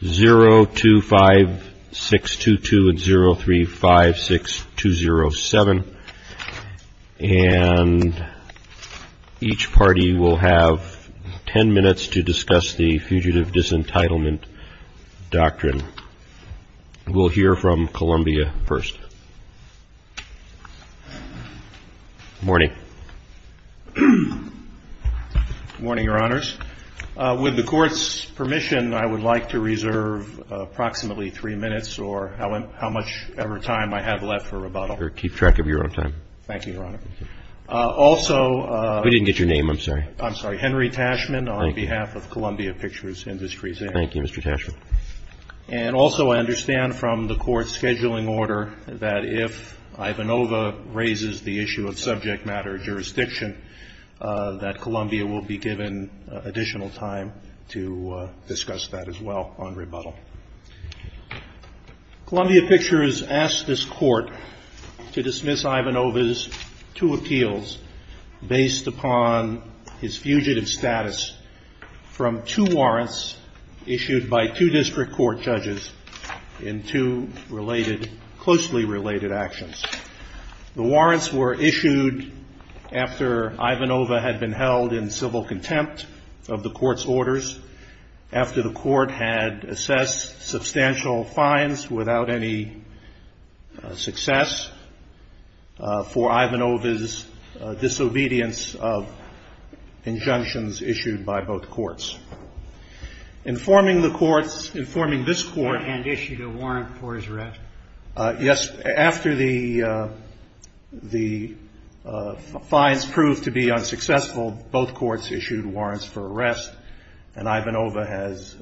025622 and 0356207 and each party will have ten minutes to discuss the Fugitive Disentitlement Doctrine. We'll hear from Columbia first. MR. TASCHMAN. Good morning, Your Honors. With the Court's permission, I would like to reserve approximately three minutes or however much time I have left for rebuttal. MR. RIEFFEL. Keep track of your own time. MR. TASCHMAN. Thank you, Your Honor. MR. RIEFFEL. Thank you. MR. TASCHMAN. Also, MR. RIEFFEL. We didn't get your name. I'm sorry. MR. TASCHMAN. I'm sorry. Henry Taschman on behalf of Columbia Pictures Industries. MR. RIEFFEL. Thank you, Mr. Taschman. And also, I understand from the Court's scheduling order that if Ivanova raises the issue of subject matter jurisdiction, that Columbia will be given additional time to discuss that as well on rebuttal. Columbia Pictures asked this Court to dismiss Ivanova's two appeals based upon his fugitive status from two warrants issued by two district court judges in two closely related actions. The warrants were issued after Ivanova had been held in civil contempt of the Court's orders, after the Court had assessed substantial fines without any success for Ivanova's disobedience of injunctions issued by both courts. Informing the courts, informing this Court... MR. TASCHMAN. And issued a warrant for his arrest. MR. RIEFFEL. Yes. After the fines proved to be unsuccessful, both courts issued warrants for arrest, and Ivanova has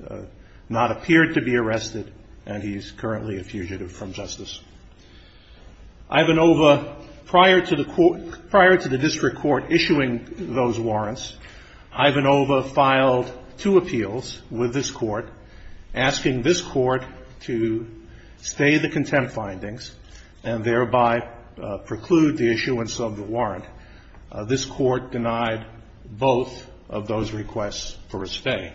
not appeared to be arrested, and he is currently a fugitive from justice. Ivanova, prior to the district court issuing those warrants, Ivanova filed two appeals with this Court, asking this Court to stay the contempt findings and thereby preclude the issuance of the warrant. This Court denied both of those requests for his stay.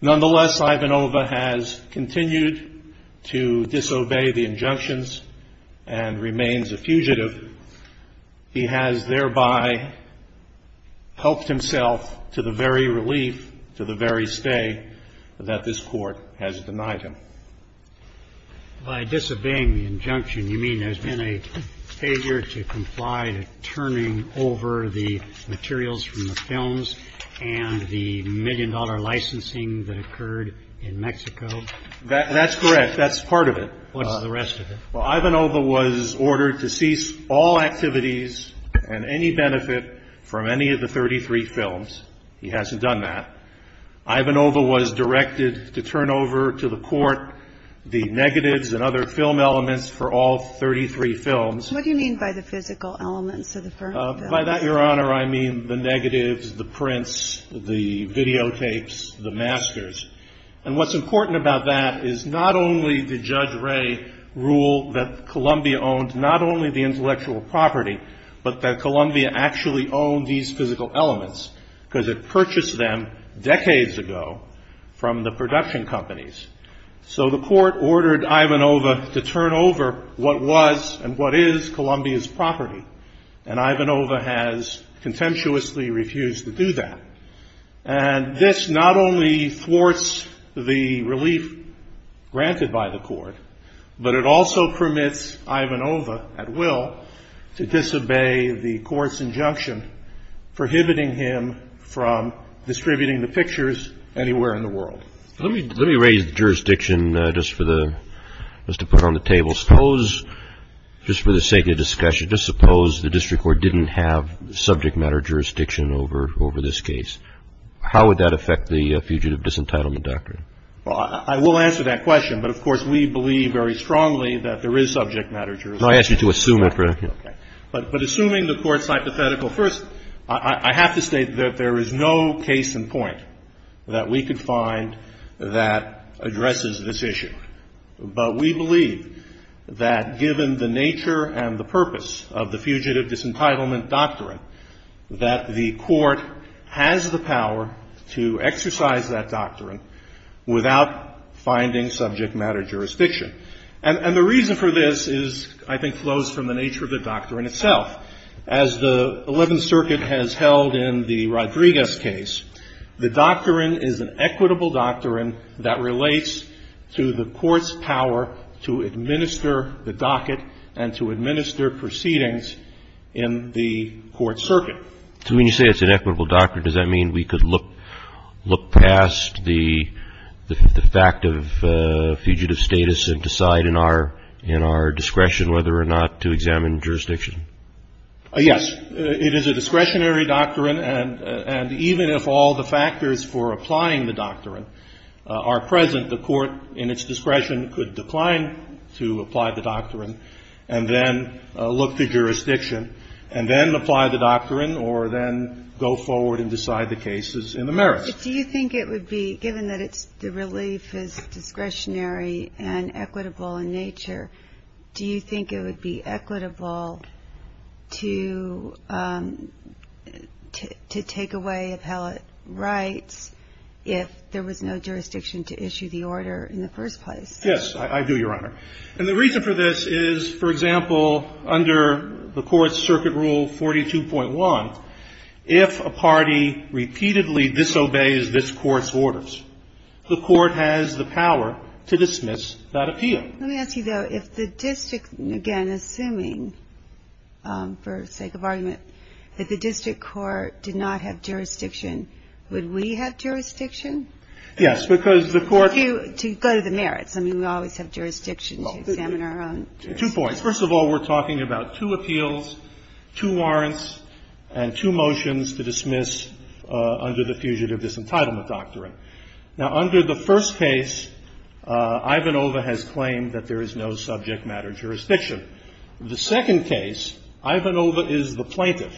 Nonetheless, Ivanova has continued to disobey the injunctions and remains a fugitive. He has thereby helped himself to the very relief, to the very stay, that this Court has denied him. JUSTICE SCALIA. By disobeying the injunction, you mean there's been a failure to comply to turning over the materials from the films and the million-dollar licensing that occurred in Mexico? MR. TASCHMAN. That's correct. That's part of it. JUSTICE SCALIA. What's the rest of it? MR. TASCHMAN. Well, Ivanova was ordered to cease all activities and any benefit from any of the 33 films. He hasn't done that. Ivanova was directed to turn over to the Court the negatives and other film elements for all 33 films. JUSTICE SCALIA. What do you mean by the physical elements of the films? MR. TASCHMAN. By that, Your Honor, I mean the negatives, the prints, the videotapes, the masters. And what's important about that is not only did Judge Wray rule that Columbia owned not only the intellectual property, but that Columbia actually owned these physical elements, because it purchased them decades ago from the production companies. So the Court ordered Ivanova to turn over what was and what is Columbia's property, and Ivanova has contemptuously refused to do that. And this not only thwarts the relief granted by the Court, but it also permits Ivanova at will to disobey the Court's injunction prohibiting him from distributing the pictures anywhere in the world. JUSTICE SCALIA. Let me raise jurisdiction just to put on the table. Suppose, just for the sake of discussion, just suppose the District Court didn't have subject matter jurisdiction over this case. How would that affect the Fugitive Disentitlement Doctrine? MR. TASCHMAN. I will answer that question, but, of course, we believe very strongly that there is subject matter jurisdiction. JUSTICE SCALIA. No, I ask you to assume it. MR. TASCHMAN. Okay. But assuming the Court's hypothetical, first, I have to state that there is no case in point that we could find that addresses this issue. But we believe that, given the nature and the purpose of the Fugitive Disentitlement Doctrine, that the Court has the power to exercise that doctrine without finding subject matter jurisdiction. And the reason for this is, I think, flows from the nature of the doctrine itself. As the Eleventh Circuit has held in the Rodriguez case, the doctrine is an equitable doctrine that relates to the Court's power to administer the docket and to administer proceedings in the court circuit. So when you say it's an equitable doctrine, does that mean we could look past the fact of fugitive status and decide in our discretion whether or not to examine jurisdiction? MR. TASCHMAN. Yes. It is a discretionary doctrine, and even if all the factors for applying the doctrine are present, the Court, in its discretion, could decline to apply the doctrine and then look to jurisdiction and then apply the doctrine or then go forward and decide the cases in the merits. QUESTION. Do you think it would be, given that the relief is discretionary and equitable in nature, do you think it would be equitable to take away appellate rights if there was no jurisdiction to issue the order in the first place? MR. TASCHMAN. Yes, I do, Your Honor. And the reason for this is, for example, under the Court's Circuit Rule 42.1, if a party repeatedly disobeys this Court's orders, the Court has the power to dismiss that appeal. QUESTION. Let me ask you, though, if the district, again, assuming, for sake of argument, that the district court did not have jurisdiction, would we have jurisdiction? MR. TASCHMAN. Yes, because the Court — QUESTION. If we go to the merits, I mean, we always have jurisdiction to examine our own jurisdiction. MR. TASCHMAN. Two points. First of all, we're talking about two appeals, two warrants, and two motions to dismiss under the Fugitive Disentitlement Doctrine. Now, under the first case, Ivanova has claimed that there is no subject matter jurisdiction. The second case, Ivanova is the plaintiff,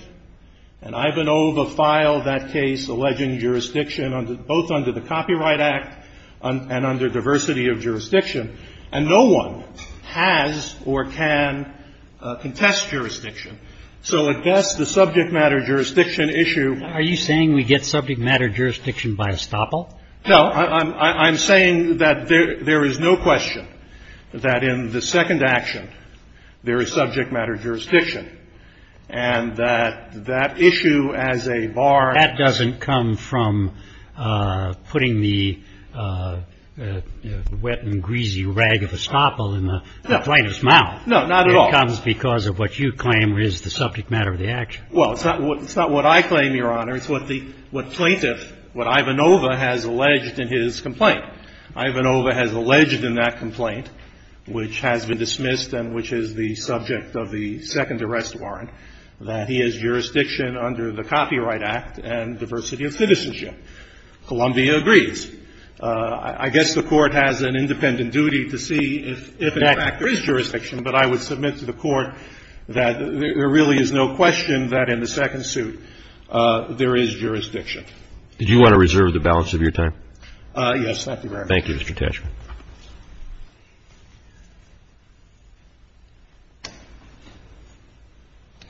and Ivanova filed that case alleging jurisdiction both under the Copyright Act and under diversity of jurisdiction. And no one has or can contest jurisdiction. So, at best, the subject matter jurisdiction issue — QUESTION. Are you saying we get subject matter jurisdiction by estoppel? MR. TASCHMAN. No, I'm saying that there is no question that in the second action there is subject matter jurisdiction, and that that issue as a bar — QUESTION. Does that come from putting the wet and greasy rag of estoppel in the plaintiff's mouth? MR. TASCHMAN. No, not at all. QUESTION. It comes because of what you claim is the subject matter of the action? MR. TASCHMAN. Well, it's not what I claim, Your Honor. It's what the — what plaintiff — what Ivanova has alleged in his complaint. Ivanova has alleged in that complaint, which has been dismissed and which is the subject of the second arrest warrant, that he has jurisdiction under the Copyright Act and diversity of citizenship. Columbia agrees. I guess the Court has an independent duty to see if, in fact, there is jurisdiction, but I would submit to the Court that there really is no question that in the second suit there is jurisdiction. CHIEF JUSTICE ROBERTS. Did you want to reserve the balance of your time? MR. TASCHMAN. Yes, thank you very much. CHIEF JUSTICE ROBERTS. Thank you,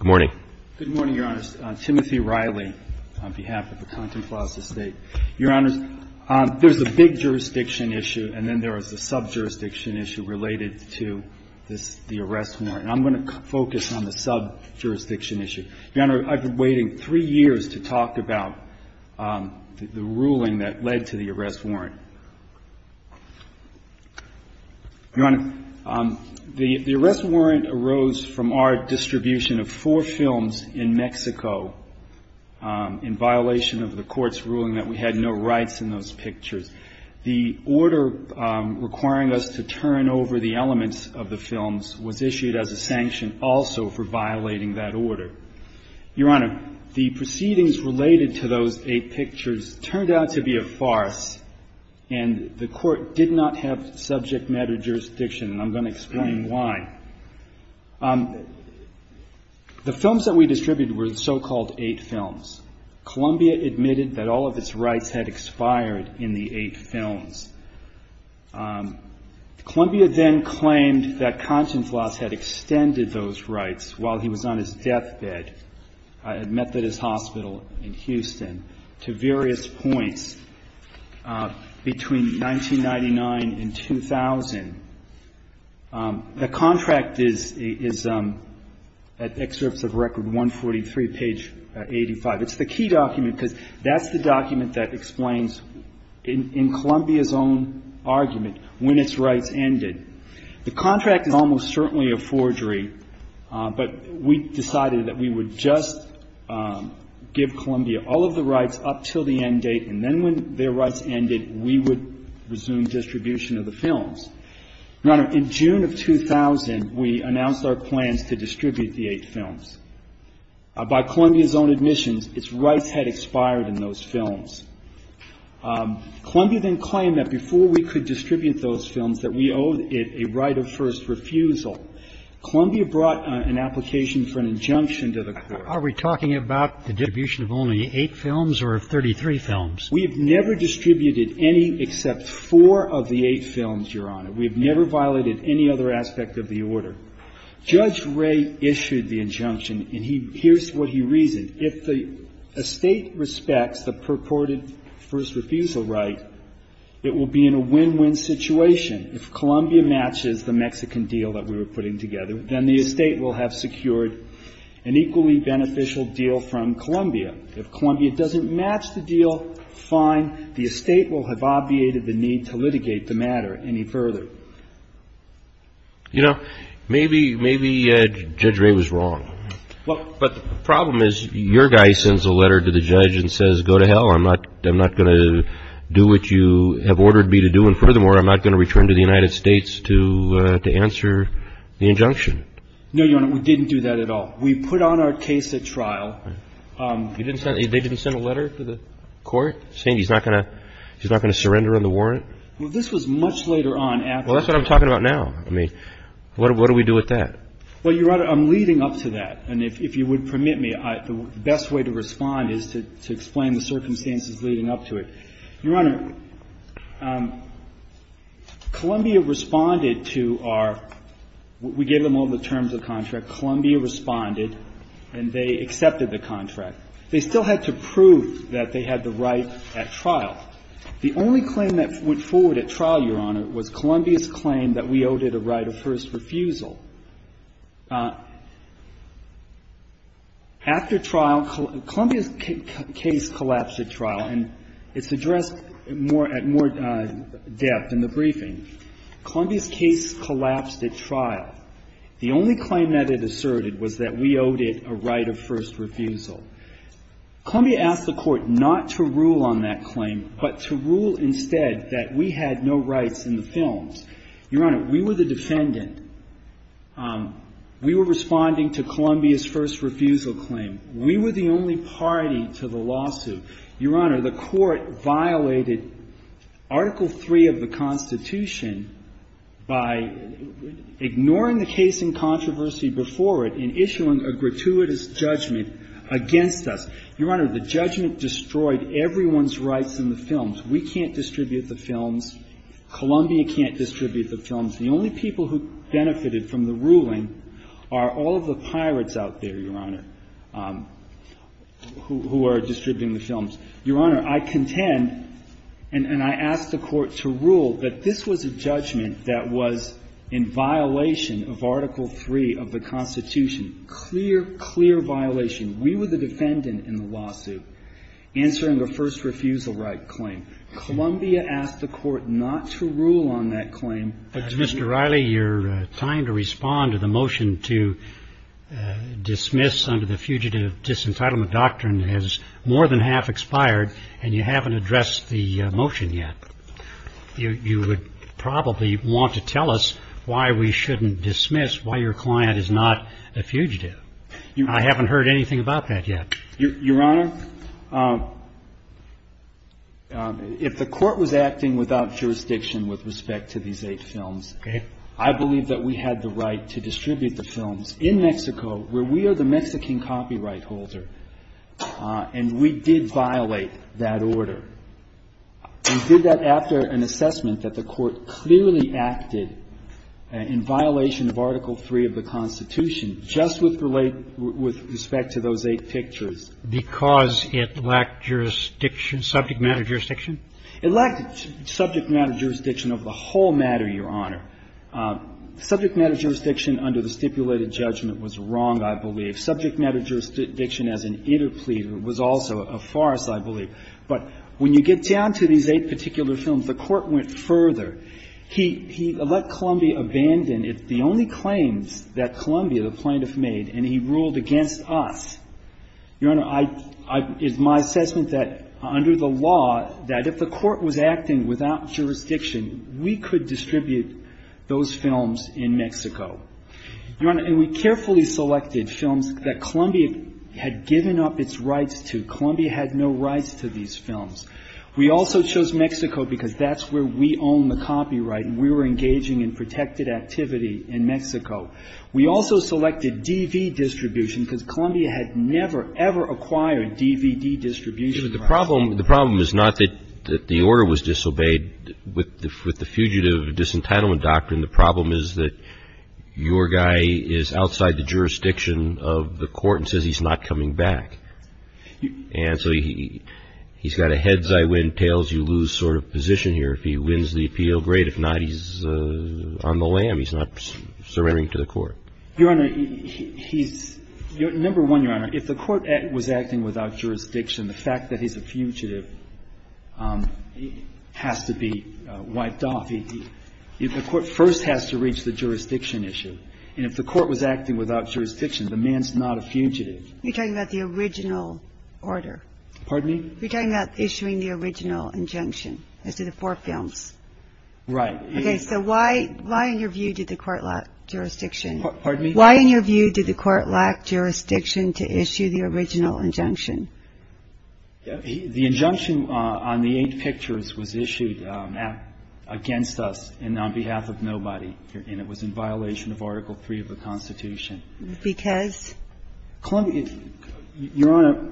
Mr. Taschman. MR. TIMOTHY RILEY. Good morning, Your Honor. Timothy Riley on behalf of the Contemplative State. Your Honor, there's a big jurisdiction issue and then there is a sub-jurisdiction issue related to this — the arrest warrant. And I'm going to focus on the sub-jurisdiction issue. Your Honor, I've been waiting three years to talk about the ruling that led to the arrest warrant. Your Honor, the arrest warrant arose from our distribution of four films in Mexico in violation of the Court's ruling that we had no rights in those pictures. The order requiring us to turn over the elements of the films was issued as a sanction also for violating that order. Your Honor, the proceedings related to those eight pictures turned out to be a farce and the Court did not have subject matter jurisdiction, and I'm going to explain why. The films that we distributed were the so-called eight films. Columbia admitted that all of its rights had expired in the eight films. Columbia then claimed that Consonflas had extended those rights while he was on his deathbed at Methodist Hospital in Houston to various points between 1999 and 2000. The contract is at excerpts of Record 143, page 85. It's the key document because that's the document that explains, in Columbia's own argument, when its rights ended. The contract is almost certainly a forgery, but we decided that we would just give Columbia all of the rights up till the end date, and then when their rights ended, we would resume distribution of the films. Your Honor, in June of 2000, we announced our plans to distribute the eight films. By Columbia's own admissions, its rights had expired in those films. Columbia then claimed that before we could distribute those films, that we owed it a right of first refusal. Columbia brought an application for an injunction to the Court. Are we talking about the distribution of only eight films or of 33 films? We have never distributed any except four of the eight films, Your Honor. We have never violated any other aspect of the order. Judge Wray issued the injunction, and he – here's what he reasoned. If the estate respects the purported first refusal right, it will be in a win-win situation. If Columbia matches the Mexican deal that we were putting together, then the estate will have secured an equally beneficial deal from Columbia. If Columbia doesn't match the deal, fine. The estate will have obviated the need to litigate the matter any further. You know, maybe Judge Wray was wrong. But the problem is your guy sends a letter to the judge and says, go to hell. I'm not going to do what you have ordered me to do. And furthermore, I'm not going to return to the United States to answer the injunction. No, Your Honor. We didn't do that at all. We put on our case at trial. They didn't send a letter to the court saying he's not going to surrender on the warrant? Well, this was much later on. Well, that's what I'm talking about now. I mean, what do we do with that? Well, Your Honor, I'm leading up to that. And if you would permit me, the best way to respond is to explain the circumstances leading up to it. Your Honor, Columbia responded to our – we gave them all the terms of the contract. Columbia responded, and they accepted the contract. They still had to prove that they had the right at trial. The only claim that went forward at trial, Your Honor, was Columbia's claim that we owed it a right of first refusal. After trial, Columbia's case collapsed at trial. And it's addressed more at more depth in the briefing. Columbia's case collapsed at trial. The only claim that it asserted was that we owed it a right of first refusal. Columbia asked the Court not to rule on that claim, but to rule instead that we had no rights in the films. Your Honor, we were the defendant. We were responding to Columbia's first refusal claim. We were the only party to the lawsuit. Your Honor, the Court violated Article III of the Constitution by ignoring the case in controversy before it and issuing a gratuitous judgment against us. Your Honor, the judgment destroyed everyone's rights in the films. We can't distribute the films. Columbia can't distribute the films. The only people who benefited from the ruling are all of the pirates out there, Your Honor, who are distributing the films. Your Honor, I contend and I ask the Court to rule that this was a judgment that was in violation of Article III of the Constitution, clear, clear violation. We were the defendant in the lawsuit answering a first refusal right claim. Columbia asked the Court not to rule on that claim. Mr. Riley, you're trying to respond to the motion to dismiss under the fugitive disentitlement doctrine has more than half expired, and you haven't addressed the motion yet. You would probably want to tell us why we shouldn't dismiss, why your client is not a fugitive. I haven't heard anything about that yet. Your Honor, if the Court was acting without jurisdiction with respect to these eight films, I believe that we had the right to distribute the films in Mexico where we are the Mexican copyright holder, and we did violate that order. We did that after an assessment that the Court clearly acted in violation of Article III of the Constitution just with respect to those eight pictures. Because it lacked jurisdiction, subject matter jurisdiction? It lacked subject matter jurisdiction of the whole matter, Your Honor. Subject matter jurisdiction under the stipulated judgment was wrong, I believe. Subject matter jurisdiction as an interpleader was also a farce, I believe. But when you get down to these eight particular films, the Court went further. He let Columbia abandon the only claims that Columbia, the plaintiff, made, and he ruled against us. Your Honor, it's my assessment that under the law, that if the Court was acting without jurisdiction, we could distribute those films in Mexico. Your Honor, and we carefully selected films that Columbia had given up its rights Columbia had no rights to these films. We also chose Mexico because that's where we own the copyright, and we were engaging in protected activity in Mexico. We also selected DV distribution because Columbia had never, ever acquired DVD distribution. The problem is not that the order was disobeyed. With the Fugitive Disentitlement Doctrine, the problem is that your guy is outside the jurisdiction of the Court and says he's not coming back. And so he's got a heads-I-win, tails-you-lose sort of position here. If he wins the appeal, great. If not, he's on the lam. He's not surrendering to the Court. Your Honor, he's – number one, Your Honor, if the Court was acting without jurisdiction, the fact that he's a fugitive has to be wiped off. The Court first has to reach the jurisdiction issue. And if the Court was acting without jurisdiction, the man's not a fugitive. You're talking about the original order. Pardon me? You're talking about issuing the original injunction as to the four films. Right. Okay, so why, in your view, did the Court lack jurisdiction? Pardon me? Why, in your view, did the Court lack jurisdiction to issue the original injunction? The injunction on the eight pictures was issued against us and on behalf of nobody, and it was in violation of Article III of the Constitution. Because? Columbia – Your Honor,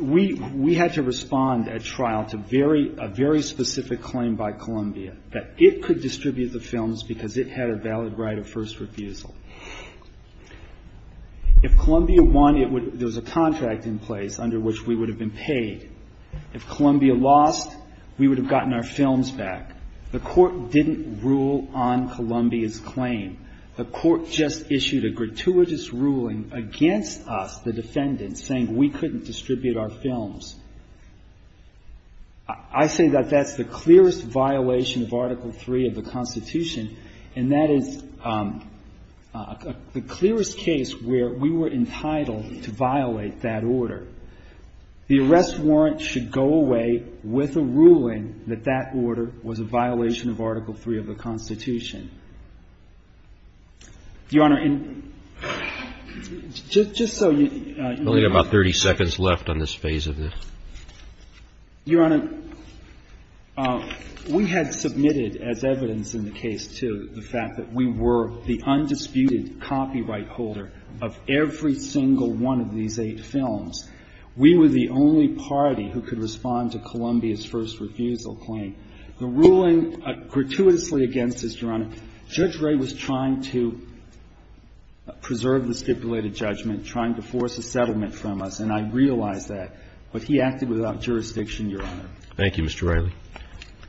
we had to respond at trial to very – a very specific claim by Columbia that it could distribute the films because it had a valid right of first refusal. If Columbia won, it would – there was a contract in place under which we would have been paid. If Columbia lost, we would have gotten our films back. The Court didn't rule on Columbia's claim. The Court just issued a gratuitous ruling against us, the defendants, saying we couldn't distribute our films. I say that that's the clearest violation of Article III of the Constitution, and that is the clearest case where we were entitled to violate that order. The arrest warrant should go away with a ruling that that order was a violation of Article III of the Constitution. Your Honor, in – just so you – We only have about 30 seconds left on this phase of this. Your Honor, we had submitted as evidence in the case, too, the fact that we were the undisputed copyright holder of every single one of these eight films. We were the only party who could respond to Columbia's first refusal claim. The ruling gratuitously against us, Your Honor, Judge Ray was trying to preserve the stipulated judgment, trying to force a settlement from us, and I realize that. But he acted without jurisdiction, Your Honor. Thank you, Mr. Riley.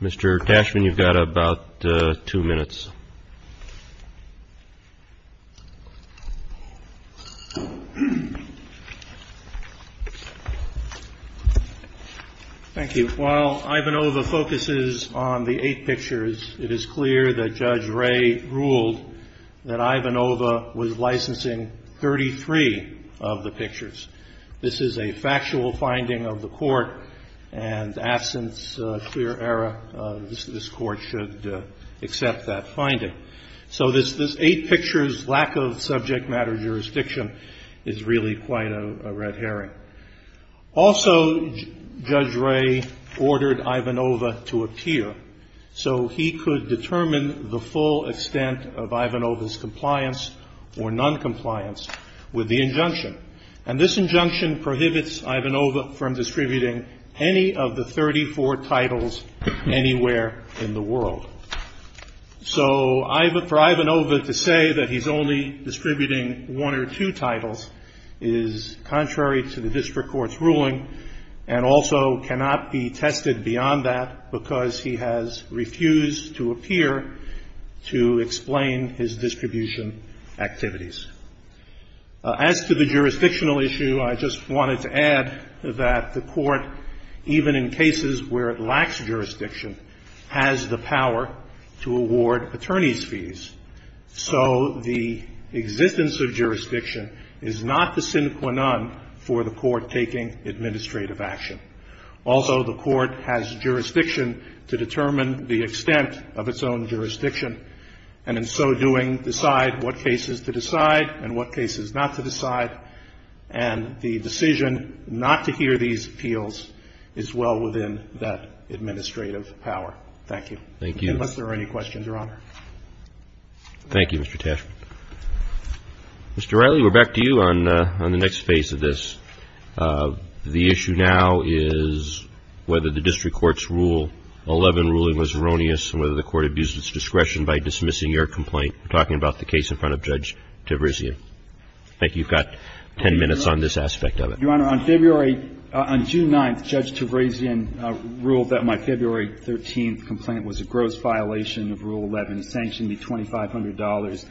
Mr. Cashman, you've got about two minutes. Thank you. While Ivanova focuses on the eight pictures, it is clear that Judge Ray ruled that Ivanova was licensing 33 of the pictures. This is a factual finding of the Court, and absent a clear error, this Court should accept that finding. So this eight pictures lack of subject matter jurisdiction is really quite a red herring. Also, Judge Ray ordered Ivanova to appear so he could determine the full extent of Ivanova's compliance or noncompliance with the injunction, and this injunction prohibits Ivanova from distributing any of the 34 titles anywhere in the world. So for Ivanova to say that he's only distributing one or two titles is contrary to the district court's ruling and also cannot be tested beyond that because he has refused to appear to explain his distribution activities. As to the jurisdictional issue, I just wanted to add that the Court, even in cases where it lacks jurisdiction, has the power to award attorneys' fees. So the existence of jurisdiction is not the sine qua non for the Court taking administrative action. Also, the Court has jurisdiction to determine the extent of its own jurisdiction and, in so doing, decide what cases to decide and what cases not to decide. And the decision not to hear these appeals is well within that administrative power. Thank you. Unless there are any questions, Your Honor. Thank you, Mr. Tashkent. Mr. Riley, we're back to you on the next phase of this. The issue now is whether the district court's Rule 11 ruling was erroneous and whether the Court abused its discretion by dismissing your complaint. We're talking about the case in front of Judge Tavrezian. I think you've got ten minutes on this aspect of it. Your Honor, on February – on June 9th, Judge Tavrezian ruled that my February 13th case was a gross violation of Rule 11, sanctioned me $2,500.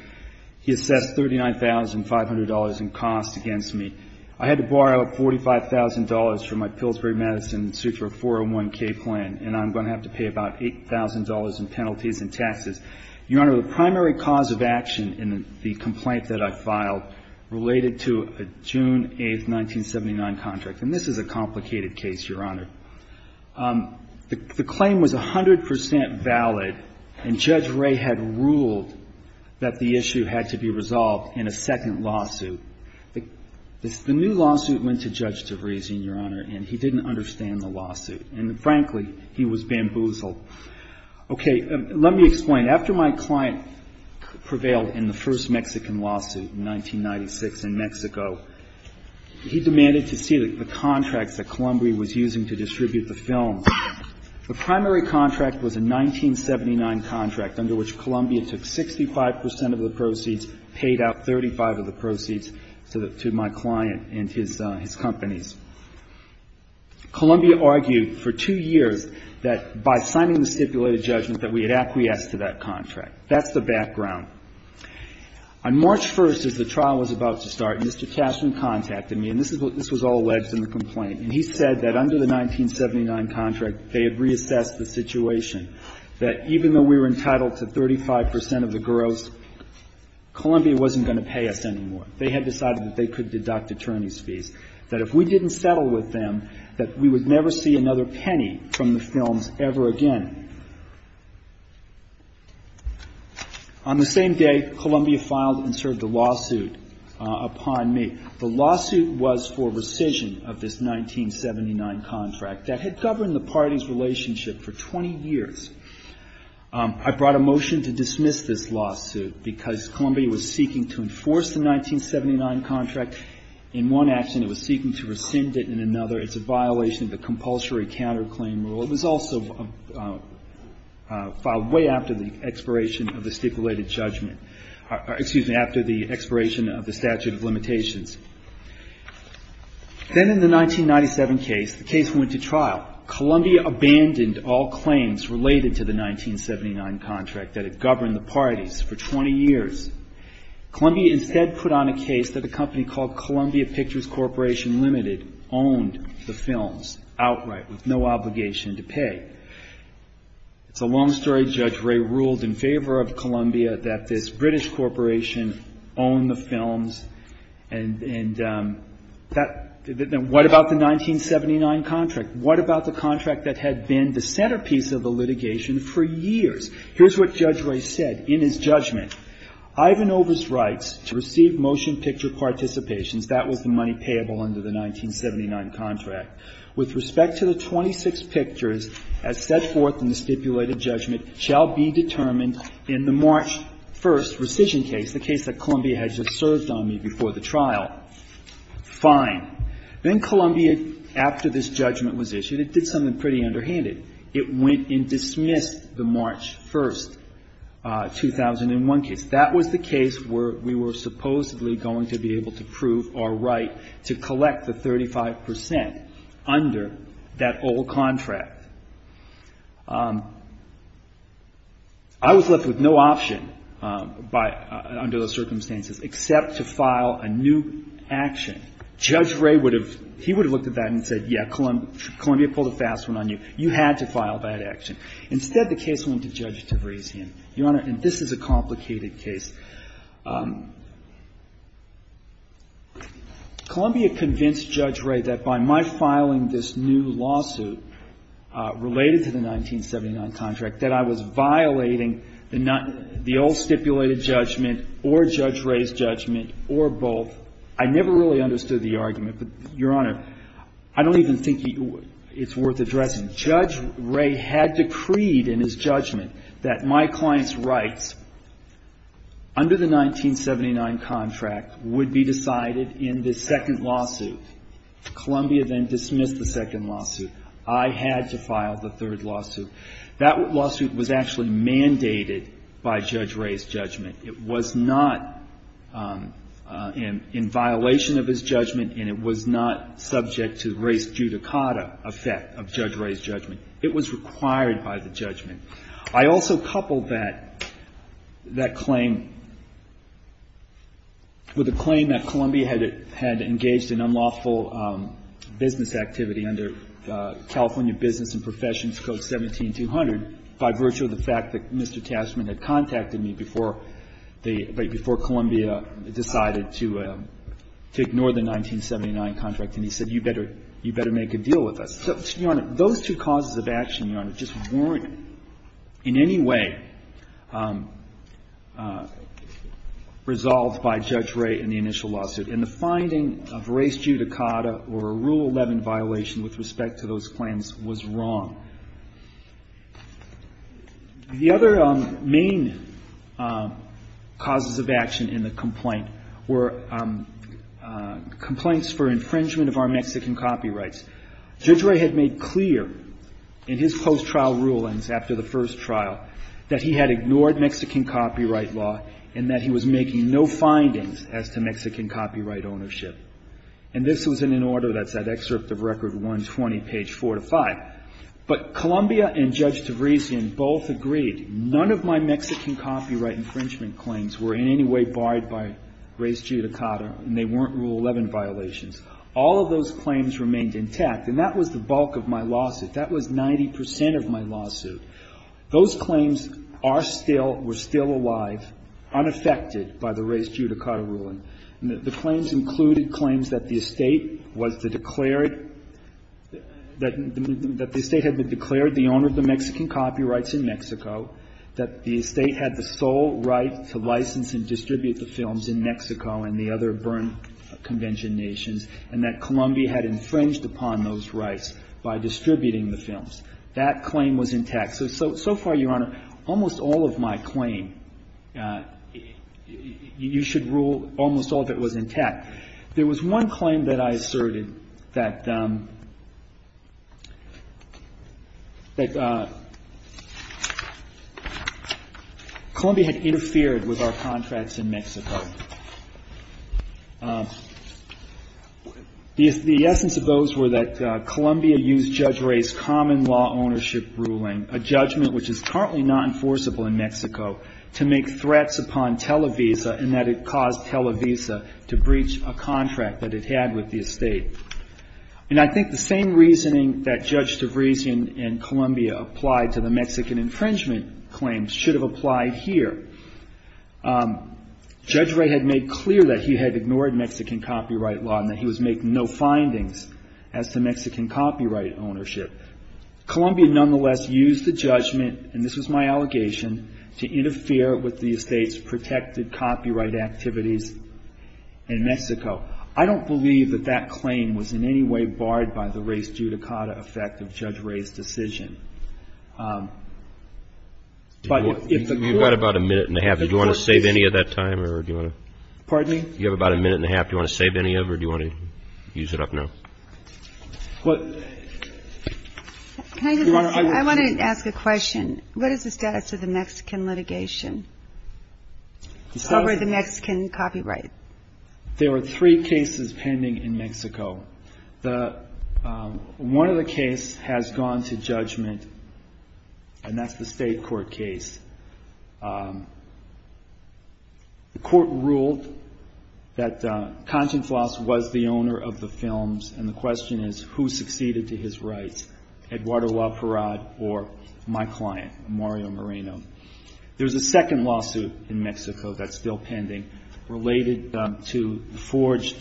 He assessed $39,500 in costs against me. I had to borrow $45,000 from my Pillsbury Medicine and sue for a 401K plan, and I'm going to have to pay about $8,000 in penalties and taxes. Your Honor, the primary cause of action in the complaint that I filed related to a June 8th, 1979 contract, and this is a complicated case, Your Honor. The claim was 100 percent valid, and Judge Ray had ruled that the issue had to be resolved in a second lawsuit. The new lawsuit went to Judge Tavrezian, Your Honor, and he didn't understand the lawsuit. And, frankly, he was bamboozled. Okay. Let me explain. After my client prevailed in the first Mexican lawsuit in 1996 in Mexico, he demanded to see the contracts that Columbia was using to distribute the film. The primary contract was a 1979 contract under which Columbia took 65 percent of the proceeds, paid out 35 of the proceeds to my client and his companies. Columbia argued for two years that by signing the stipulated judgment that we had acquiesced to that contract. That's the background. On March 1st, as the trial was about to start, Mr. Cashman contacted me, and this was all alleged in the complaint. And he said that under the 1979 contract, they had reassessed the situation, that even though we were entitled to 35 percent of the gross, Columbia wasn't going to pay us anymore. They had decided that they could deduct attorney's fees, that if we didn't settle with them, that we would never see another penny from the films ever again. On the same day, Columbia filed and served a lawsuit upon me. The lawsuit was for rescission of this 1979 contract that had governed the party's relationship for 20 years. I brought a motion to dismiss this lawsuit because Columbia was seeking to enforce the 1979 contract. In one action, it was seeking to rescind it. In another, it's a violation of the compulsory counterclaim rule. It was also filed way after the expiration of the stipulated judgment or, excuse me, after the expiration of the statute of limitations. Then in the 1997 case, the case went to trial. Columbia abandoned all claims related to the 1979 contract that had governed the parties for 20 years. Columbia instead put on a case that a company called Columbia Pictures Corporation Limited owned the films outright with no obligation to pay. It's a long story. Judge Ray ruled in favor of Columbia that this British corporation owned the films and what about the 1979 contract? What about the contract that had been the centerpiece of the litigation for years? Here's what Judge Ray said in his judgment. Ivanova's rights to receive motion picture participations, that was the money payable under the 1979 contract. With respect to the 26 pictures as set forth in the stipulated judgment shall be determined in the March 1st rescission case, the case that Columbia had just served on me before the trial. Fine. Then Columbia, after this judgment was issued, it did something pretty underhanded. It went and dismissed the March 1st, 2001 case. That was the case where we were supposedly going to be able to prove our right to collect the 35 percent under that old contract. I was left with no option by under those circumstances except to file a new action. Judge Ray would have, he would have looked at that and said, yeah, Columbia pulled a fast one on you. You had to file that action. Instead, the case went to Judge Tavrazian. Your Honor, and this is a complicated case. Columbia convinced Judge Ray that by my filing this new lawsuit related to the 1979 contract, that I was violating the old stipulated judgment or Judge Ray's judgment or both. I never really understood the argument, but, Your Honor, I don't even think it's worth addressing. Judge Ray had decreed in his judgment that my client's rights under the 1979 contract would be decided in the second lawsuit. Columbia then dismissed the second lawsuit. I had to file the third lawsuit. That lawsuit was actually mandated by Judge Ray's judgment. It was not in violation of his judgment, and it was not subject to race judicata effect of Judge Ray's judgment. It was required by the judgment. I also coupled that, that claim with a claim that Columbia had engaged in unlawful business activity under California Business and Professions Code 17-200 by virtue of the fact that Mr. Taskman had contacted me before Columbia decided to ignore the 1979 contract, and he said, you better make a deal with us. So, Your Honor, those two causes of action, Your Honor, just weren't in any way resolved by Judge Ray in the initial lawsuit. And the finding of race judicata or a Rule 11 violation with respect to those claims was wrong. The other main causes of action in the complaint were complaints for infringement of our Mexican copyrights. Judge Ray had made clear in his post-trial rulings after the first trial that he had ignored Mexican copyright law and that he was making no findings as to Mexican copyright ownership. And this was in an order that's at excerpt of Record 120, page 4 to 5. But Columbia and Judge DeVriesian both agreed none of my Mexican copyright infringement claims were in any way barred by race judicata, and they weren't Rule 11 violations. All of those claims remained intact. And that was the bulk of my lawsuit. That was 90 percent of my lawsuit. Those claims are still, were still alive, unaffected by the race judicata ruling. And the claims included claims that the estate was the declared, that the estate had been declared the owner of the Mexican copyrights in Mexico, that the estate had the sole right to license and distribute the films in Mexico and the other Berne Convention nations, and that Columbia had infringed upon those rights by distributing the films. That claim was intact. So, so far, Your Honor, almost all of my claim, you should rule almost all of it was intact. There was one claim that I asserted that Columbia had interfered with our contracts in Mexico. The essence of those were that Columbia used Judge Ray's common law ownership ruling, a judgment which is currently not enforceable in Mexico, to make threats upon Televisa, and that it caused Televisa to breach a contract that it had with the estate. And I think the same reasoning that Judge Tavresian and Columbia applied to the Mexican infringement claims should have applied here. Judge Ray had made clear that he had ignored Mexican copyright law and that he was making no findings as to Mexican copyright ownership. Columbia, nonetheless, used the judgment, and this was my allegation, to interfere with the estate's protected copyright activities in Mexico. I don't believe that that claim was in any way barred by the race judicata effect of Judge Ray's decision. But if the court... You've got about a minute and a half. Do you want to save any of that time, or do you want to... Pardon me? You have about a minute and a half. Do you want to save any of it, or do you want to use it up now? Your Honor, I... I want to ask a question. What is the status of the Mexican litigation over the Mexican copyright? There were three cases pending in Mexico. One of the cases has gone to judgment, and that's the state court case. The court ruled that Kantz and Floss was the owner of the films, and the question is, who succeeded to his rights, Eduardo La Parrad or my client, Mario Moreno? There's a second lawsuit in Mexico that's still pending related to the forged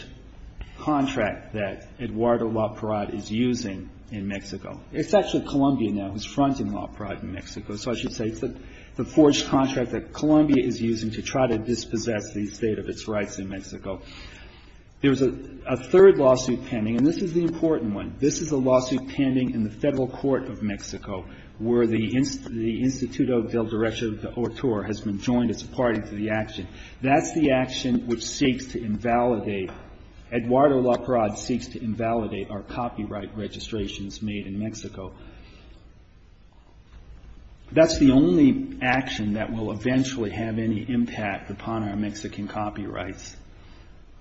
contract that Eduardo La Parrad is using in Mexico. It's actually Colombia now who's fronting La Parrad in Mexico, so I should say it's the forged contract that Colombia is using to try to dispossess the state of its rights in Mexico. There's a third lawsuit pending, and this is the important one. This is a lawsuit pending in the Federal Court of Mexico where the Instituto del Director de Autor has been joined as a party to the action. That's the action which seeks to invalidate, Eduardo La Parrad seeks to invalidate, our copyright registrations made in Mexico. That's the only action that will eventually have any impact upon our Mexican copyrights.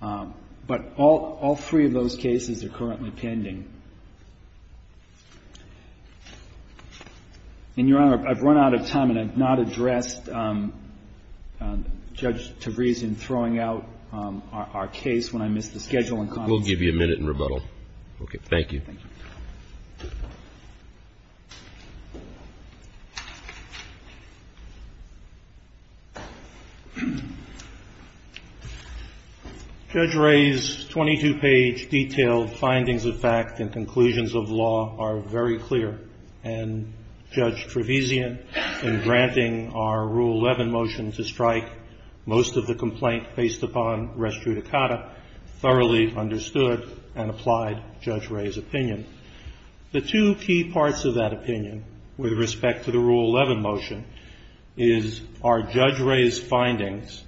But all three of those cases are currently pending. And, Your Honor, I've run out of time, and I've not addressed Judge Tavreze in throwing out our case when I missed the schedule and comments. We'll give you a minute in rebuttal. Okay. Thank you. Judge Wray's 22-page detailed findings of fact and conclusions of law are very clear, and Judge Tavrez thoroughly understood and applied Judge Wray's opinion. The two key parts of that opinion with respect to the Rule 11 motion is our Judge Wray's findings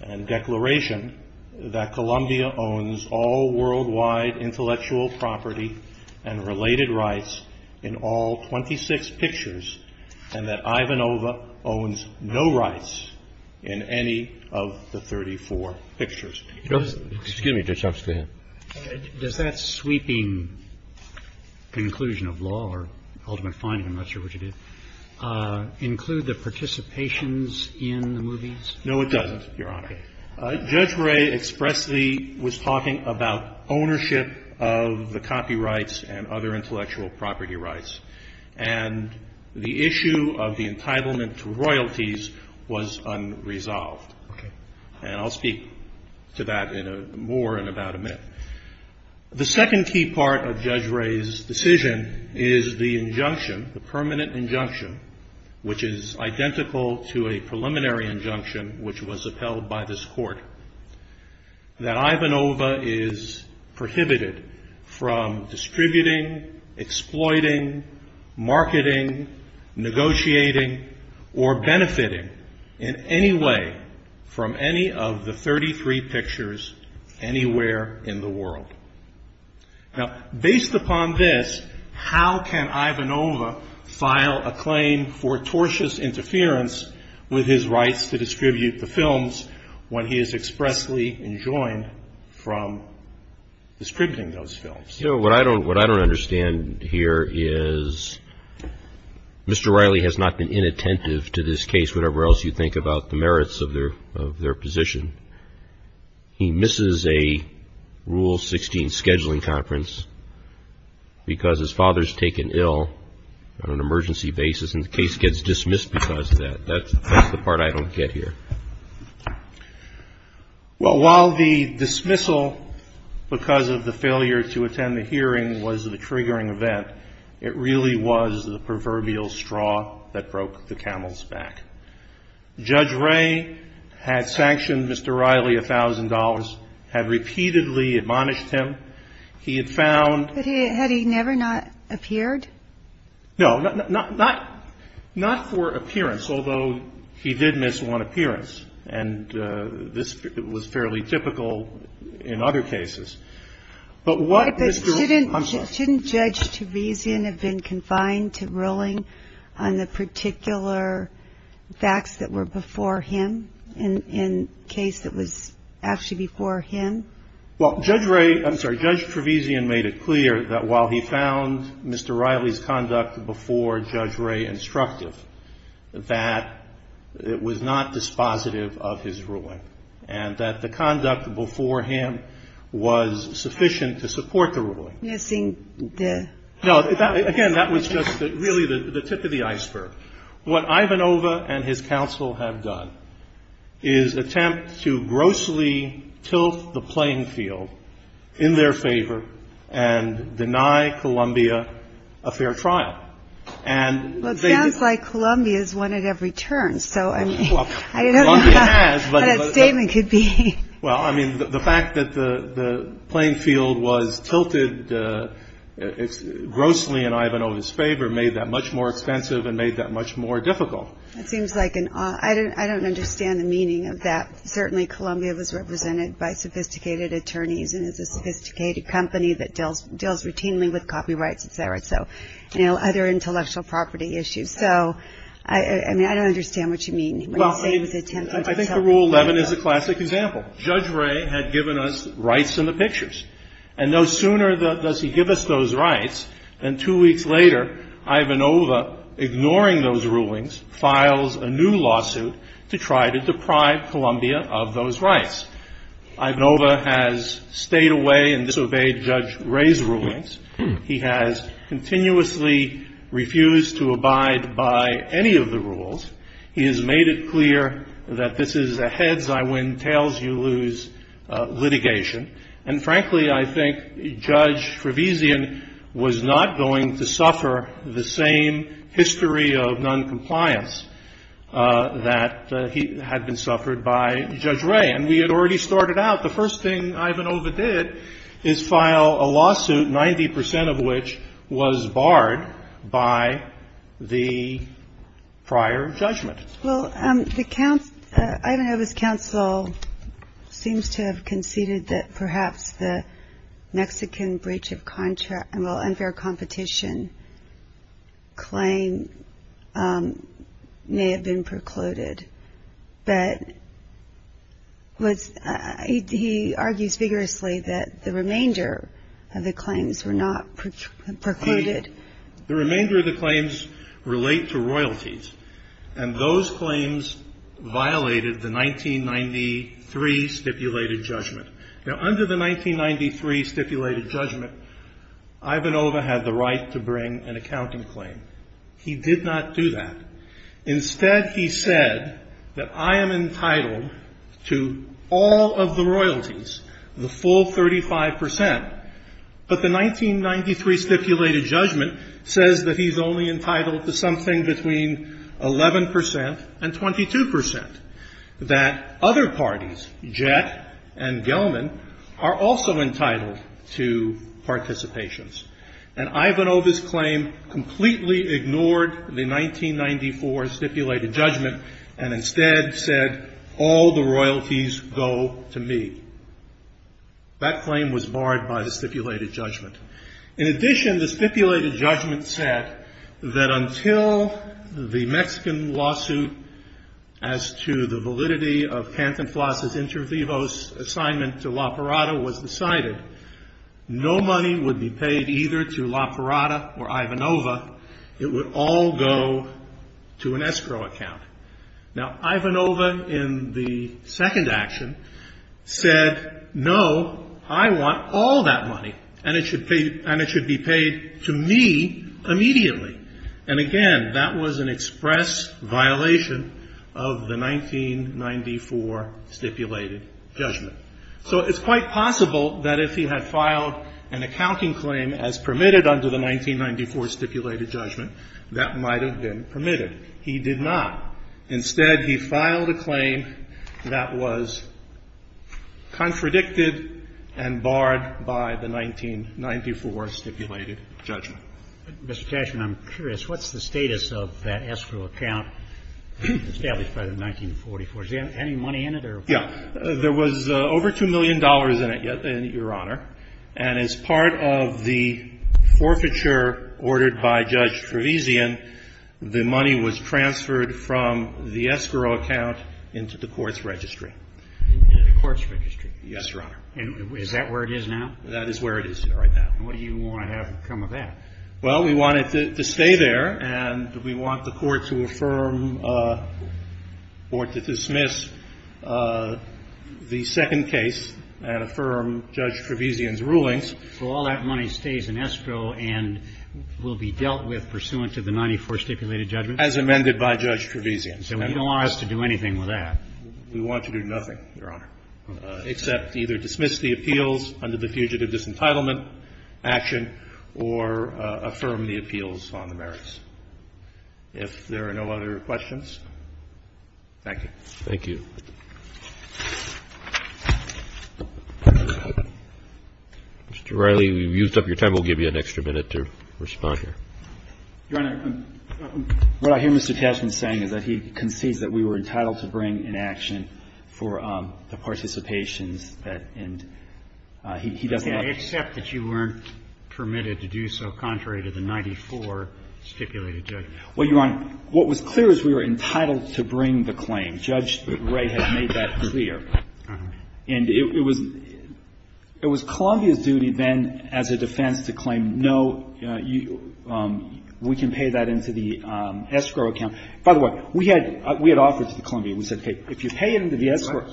and declaration that Colombia owns all worldwide intellectual property and related rights in all 26 pictures, and that Ivanova owns no rights in any of the 34 pictures. Excuse me, Judge Tavrez. Go ahead. Does that sweeping conclusion of law or ultimate finding, I'm not sure which it is, include the participations in the movies? No, it doesn't, Your Honor. Okay. Judge Wray expressly was talking about ownership of the copyrights and other intellectual property rights, and the issue of the entitlement to royalties was unresolved. Okay. And I'll speak. To that in more than about a minute. The second key part of Judge Wray's decision is the injunction, the permanent injunction, which is identical to a preliminary injunction which was upheld by this Court, that Ivanova is prohibited from distributing, exploiting, marketing, negotiating, or benefiting in any way from any of the 33 pictures anywhere in the world. Now, based upon this, how can Ivanova file a claim for tortious interference with his rights to distribute the films when he is expressly enjoined from distributing those films? You know, what I don't understand here is Mr. Riley has not been inattentive to this case, whatever else you think about the merits of their position. He misses a Rule 16 scheduling conference because his father's taken ill on an emergency basis, and the case gets dismissed because of that. That's the part I don't get here. Well, while the dismissal because of the failure to attend the hearing was the triggering event, it really was the proverbial straw that broke the camel's back. Judge Wray had sanctioned Mr. Riley $1,000, had repeatedly admonished him. He had found ---- But had he never not appeared? No. Not for appearance, although he did miss one appearance, and this was fairly typical in other cases. But what Mr. Wray ---- Shouldn't Judge Trevesian have been confined to ruling on the particular facts that were before him in a case that was actually before him? Well, Judge Wray ---- I'm sorry, Judge Trevesian made it clear that while he found Mr. Riley's conduct before Judge Wray instructive, that it was not dispositive of his ruling, and that the conduct before him was sufficient to support the ruling. Missing the ---- No. Again, that was just really the tip of the iceberg. What Ivanova and his counsel have done is attempt to grossly tilt the playing field in their favor and deny Columbia a fair trial, and they ---- Well, it sounds like Columbia is one at every turn, so I'm ---- But a statement could be ---- Well, I mean, the fact that the playing field was tilted grossly in Ivanova's favor made that much more expensive and made that much more difficult. It seems like an ---- I don't understand the meaning of that. Certainly Columbia was represented by sophisticated attorneys and is a sophisticated company that deals routinely with copyrights, et cetera, so, you know, other intellectual property issues. So, I mean, I don't understand what you mean when you say it was an attempt to tilt the playing field. Well, I think the Rule 11 is a classic example. Judge Wray had given us rights in the pictures, and no sooner does he give us those rights than two weeks later Ivanova, ignoring those rulings, files a new lawsuit to try to deprive Columbia of those rights. Ivanova has stayed away and disobeyed Judge Wray's rulings. He has continuously refused to abide by any of the rules. He has made it clear that this is a heads-I-win, tails-you-lose litigation. And, frankly, I think Judge Trevisan was not going to suffer the same history of noncompliance that had been suffered by Judge Wray. And we had already started out. The first thing Ivanova did is file a lawsuit, 90 percent of which was barred by the prior judgment. Well, Ivanova's counsel seems to have conceded that perhaps the Mexican breach of contract, well, unfair competition claim may have been precluded. But he argues vigorously that the remainder of the claims were not precluded. The remainder of the claims relate to royalties. And those claims violated the 1993 stipulated judgment. Now, under the 1993 stipulated judgment, Ivanova had the right to bring an accounting claim. He did not do that. Instead, he said that I am entitled to all of the royalties, the full 35 percent. But the 1993 stipulated judgment says that he's only entitled to something between 11 percent and 22 percent, that other parties, Jett and Gelman, are also entitled to participations. And Ivanova's claim completely ignored the 1994 stipulated judgment and instead said, all the royalties go to me. That claim was barred by the stipulated judgment. In addition, the stipulated judgment said that until the Mexican lawsuit as to the validity of Pantinflas' inter vivos assignment to La Parada was decided, no money would be paid either to La Parada or Ivanova. It would all go to an escrow account. Now, Ivanova in the second action said, no, I want all that money, and it should be paid to me immediately. And, again, that was an express violation of the 1994 stipulated judgment. So it's quite possible that if he had filed an accounting claim as permitted under the 1994 stipulated judgment, that might have been permitted. He did not. Instead, he filed a claim that was contradicted and barred by the 1994 stipulated judgment. Mr. Cashman, I'm curious, what's the status of that escrow account established by the 1944? Is there any money in it or? Yeah. There was over $2 million in it, Your Honor. And as part of the forfeiture ordered by Judge Trevisian, the money was transferred from the escrow account into the court's registry. Into the court's registry? Yes, Your Honor. And is that where it is now? That is where it is right now. And what do you want to have come of that? Well, we want it to stay there, and we want the court to affirm or to dismiss the second case and affirm Judge Trevisian's rulings. So all that money stays in escrow and will be dealt with pursuant to the 1994 stipulated judgment? As amended by Judge Trevisian. So you don't want us to do anything with that? We want to do nothing, Your Honor, except either dismiss the appeals under the fugitive disentitlement action or affirm the appeals on the merits. If there are no other questions, thank you. Thank you. Mr. Riley, you've used up your time. We'll give you an extra minute to respond here. Your Honor, what I hear Mr. Cashman saying is that he concedes that we were entitled to bring in action for the participations that end he doesn't have. I accept that you weren't permitted to do so contrary to the 94 stipulated judgment. Well, Your Honor, what was clear is we were entitled to bring the claim. Judge Ray had made that clear. And it was Columbia's duty then as a defense to claim, no, we can pay that into the escrow account. By the way, we had offered to Columbia. We said, hey, if you pay it into the escrow,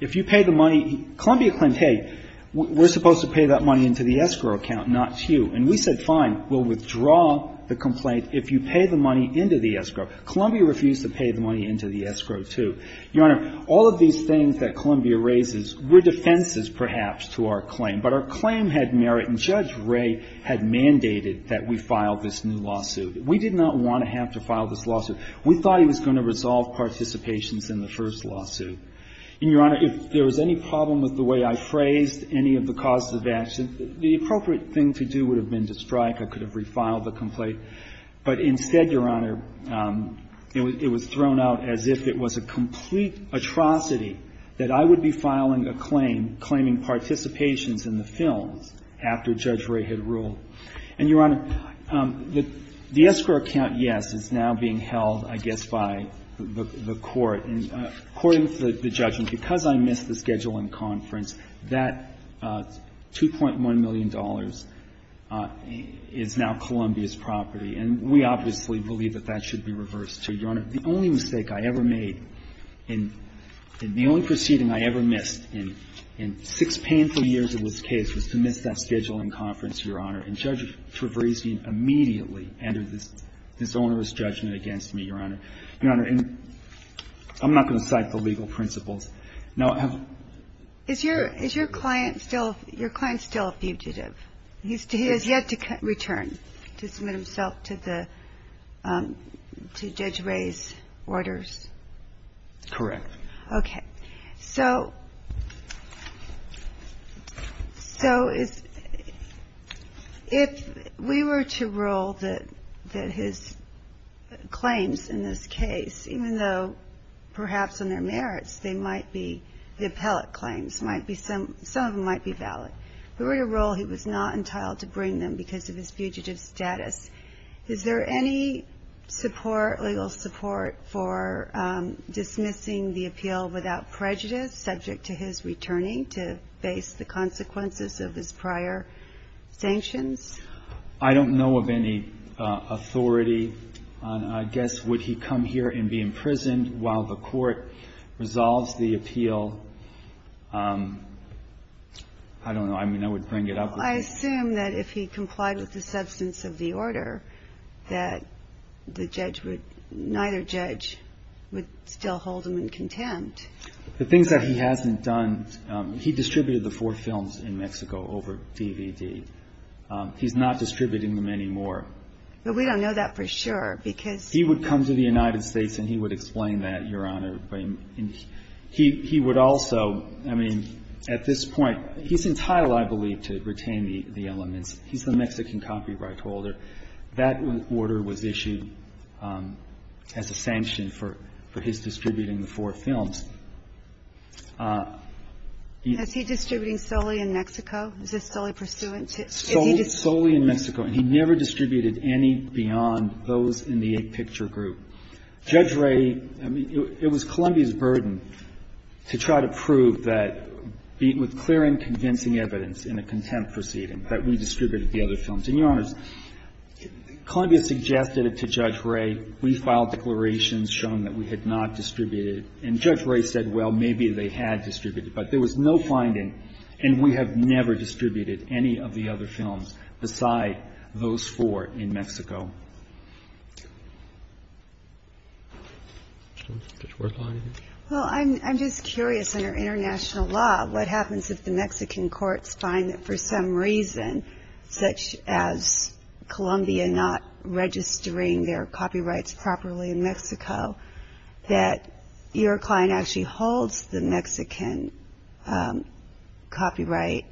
if you pay the money, Columbia claimed, hey, we're supposed to pay that money into the escrow account, not you. And we said, fine, we'll withdraw the complaint if you pay the money into the escrow. Columbia refused to pay the money into the escrow, too. Your Honor, all of these things that Columbia raises were defenses perhaps to our claim. But our claim had merit, and Judge Ray had mandated that we file this new lawsuit. We did not want to have to file this lawsuit. We thought he was going to resolve participations in the first lawsuit. And, Your Honor, if there was any problem with the way I phrased any of the causes of action, the appropriate thing to do would have been to strike. I could have refiled the complaint. But instead, Your Honor, it was thrown out as if it was a complete atrocity that I would be filing a claim claiming participations in the films after Judge Ray had ruled. And, Your Honor, the escrow account, yes, is now being held, I guess, by the Court. According to the judgment, because I missed the scheduling conference, that $2.1 million is now Columbia's property. And we obviously believe that that should be reversed, too. Your Honor, the only mistake I ever made and the only proceeding I ever missed in six painful years of this case was to miss that scheduling conference, Your Honor. And Judge Trevrizian immediately entered this onerous judgment against me, Your Honor. Your Honor, I'm not going to cite the legal principles. Now, I have a question. Is your client still a fugitive? He has yet to return to submit himself to Judge Ray's orders? Correct. Okay. So if we were to rule that his claims in this case, even though perhaps on their merits they might be, the appellate claims, some of them might be valid, if we were to rule he was not entitled to bring them because of his fugitive status, is there any support, legal support, for dismissing the appeal without prejudice subject to his returning to face the consequences of his prior sanctions? I don't know of any authority. I guess would he come here and be imprisoned while the court resolves the appeal? I don't know. I mean, I would bring it up. I assume that if he complied with the substance of the order that the judge would neither judge would still hold him in contempt. The things that he hasn't done, he distributed the four films in Mexico over DVD. He's not distributing them anymore. But we don't know that for sure because He would come to the United States and he would explain that, Your Honor. He would also, I mean, at this point, he's entitled, I believe, to retain the elements. He's the Mexican copyright holder. That order was issued as a sanction for his distributing the four films. Is he distributing solely in Mexico? Is this solely pursuant to solely in Mexico? And he never distributed any beyond those in the eight-picture group. Judge Ray, I mean, it was Columbia's burden to try to prove that with clear and convincing evidence in a contempt proceeding that we distributed the other films. And, Your Honors, Columbia suggested it to Judge Ray. We filed declarations showing that we had not distributed. And Judge Ray said, well, maybe they had distributed, but there was no finding and we have never distributed any of the other films beside those four in Mexico. Well, I'm just curious, under international law, what happens if the Mexican courts find that for some reason, such as Columbia not registering their copyrights properly in Mexico, that your client actually holds the Mexican copyright,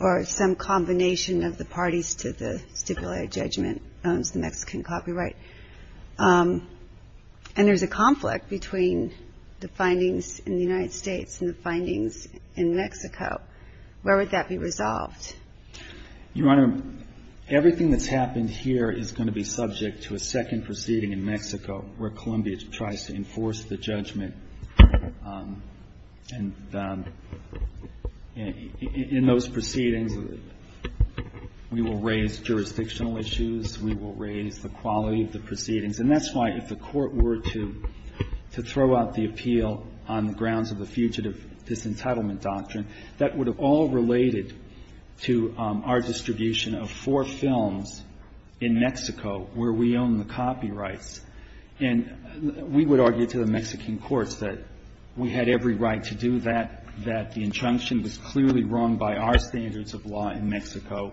or some combination of the parties to the stipulated judgment owns the Mexican copyright? And there's a conflict between the findings in the United States and the findings in Mexico. Where would that be resolved? Your Honor, everything that's happened here is going to be subject to a second proceeding in Mexico where Columbia tries to enforce the judgment. And in those proceedings, we will raise jurisdictional issues, we will raise the quality of the proceedings. And that's why if the court were to throw out the appeal on the grounds of the fugitive disentitlement doctrine, that would have all related to our distribution of four films in Mexico where we own the copyrights. And we would argue to the Mexican courts that we had every right to do that, that the injunction was clearly wrong by our standards of law in Mexico,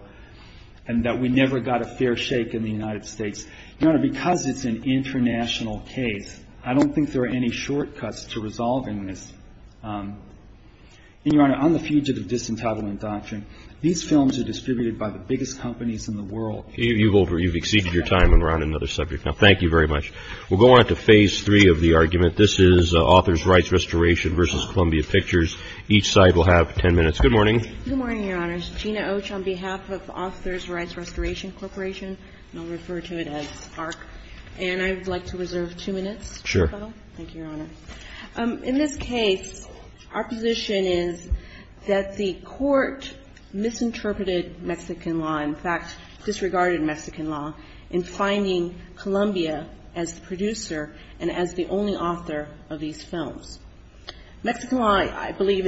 and that we never got a fair shake in the United States. Your Honor, because it's an international case, I don't think there are any shortcuts to resolving this. And Your Honor, on the fugitive disentitlement doctrine, these films are distributed by the biggest companies in the world. You've exceeded your time, and we're on another subject. Now, thank you very much. We'll go on to Phase 3 of the argument. This is Authors' Rights Restoration v. Columbia Pictures. Each side will have 10 minutes. Good morning. Good morning, Your Honors. Gina Och on behalf of Authors' Rights Restoration Corporation, and I'll refer to it as ARRC. And I would like to reserve two minutes. Sure. Thank you, Your Honor. In this case, our position is that the court misinterpreted Mexican law. In fact, disregarded Mexican law in finding Columbia as the producer and as the only author of these films. Mexican law, I believe,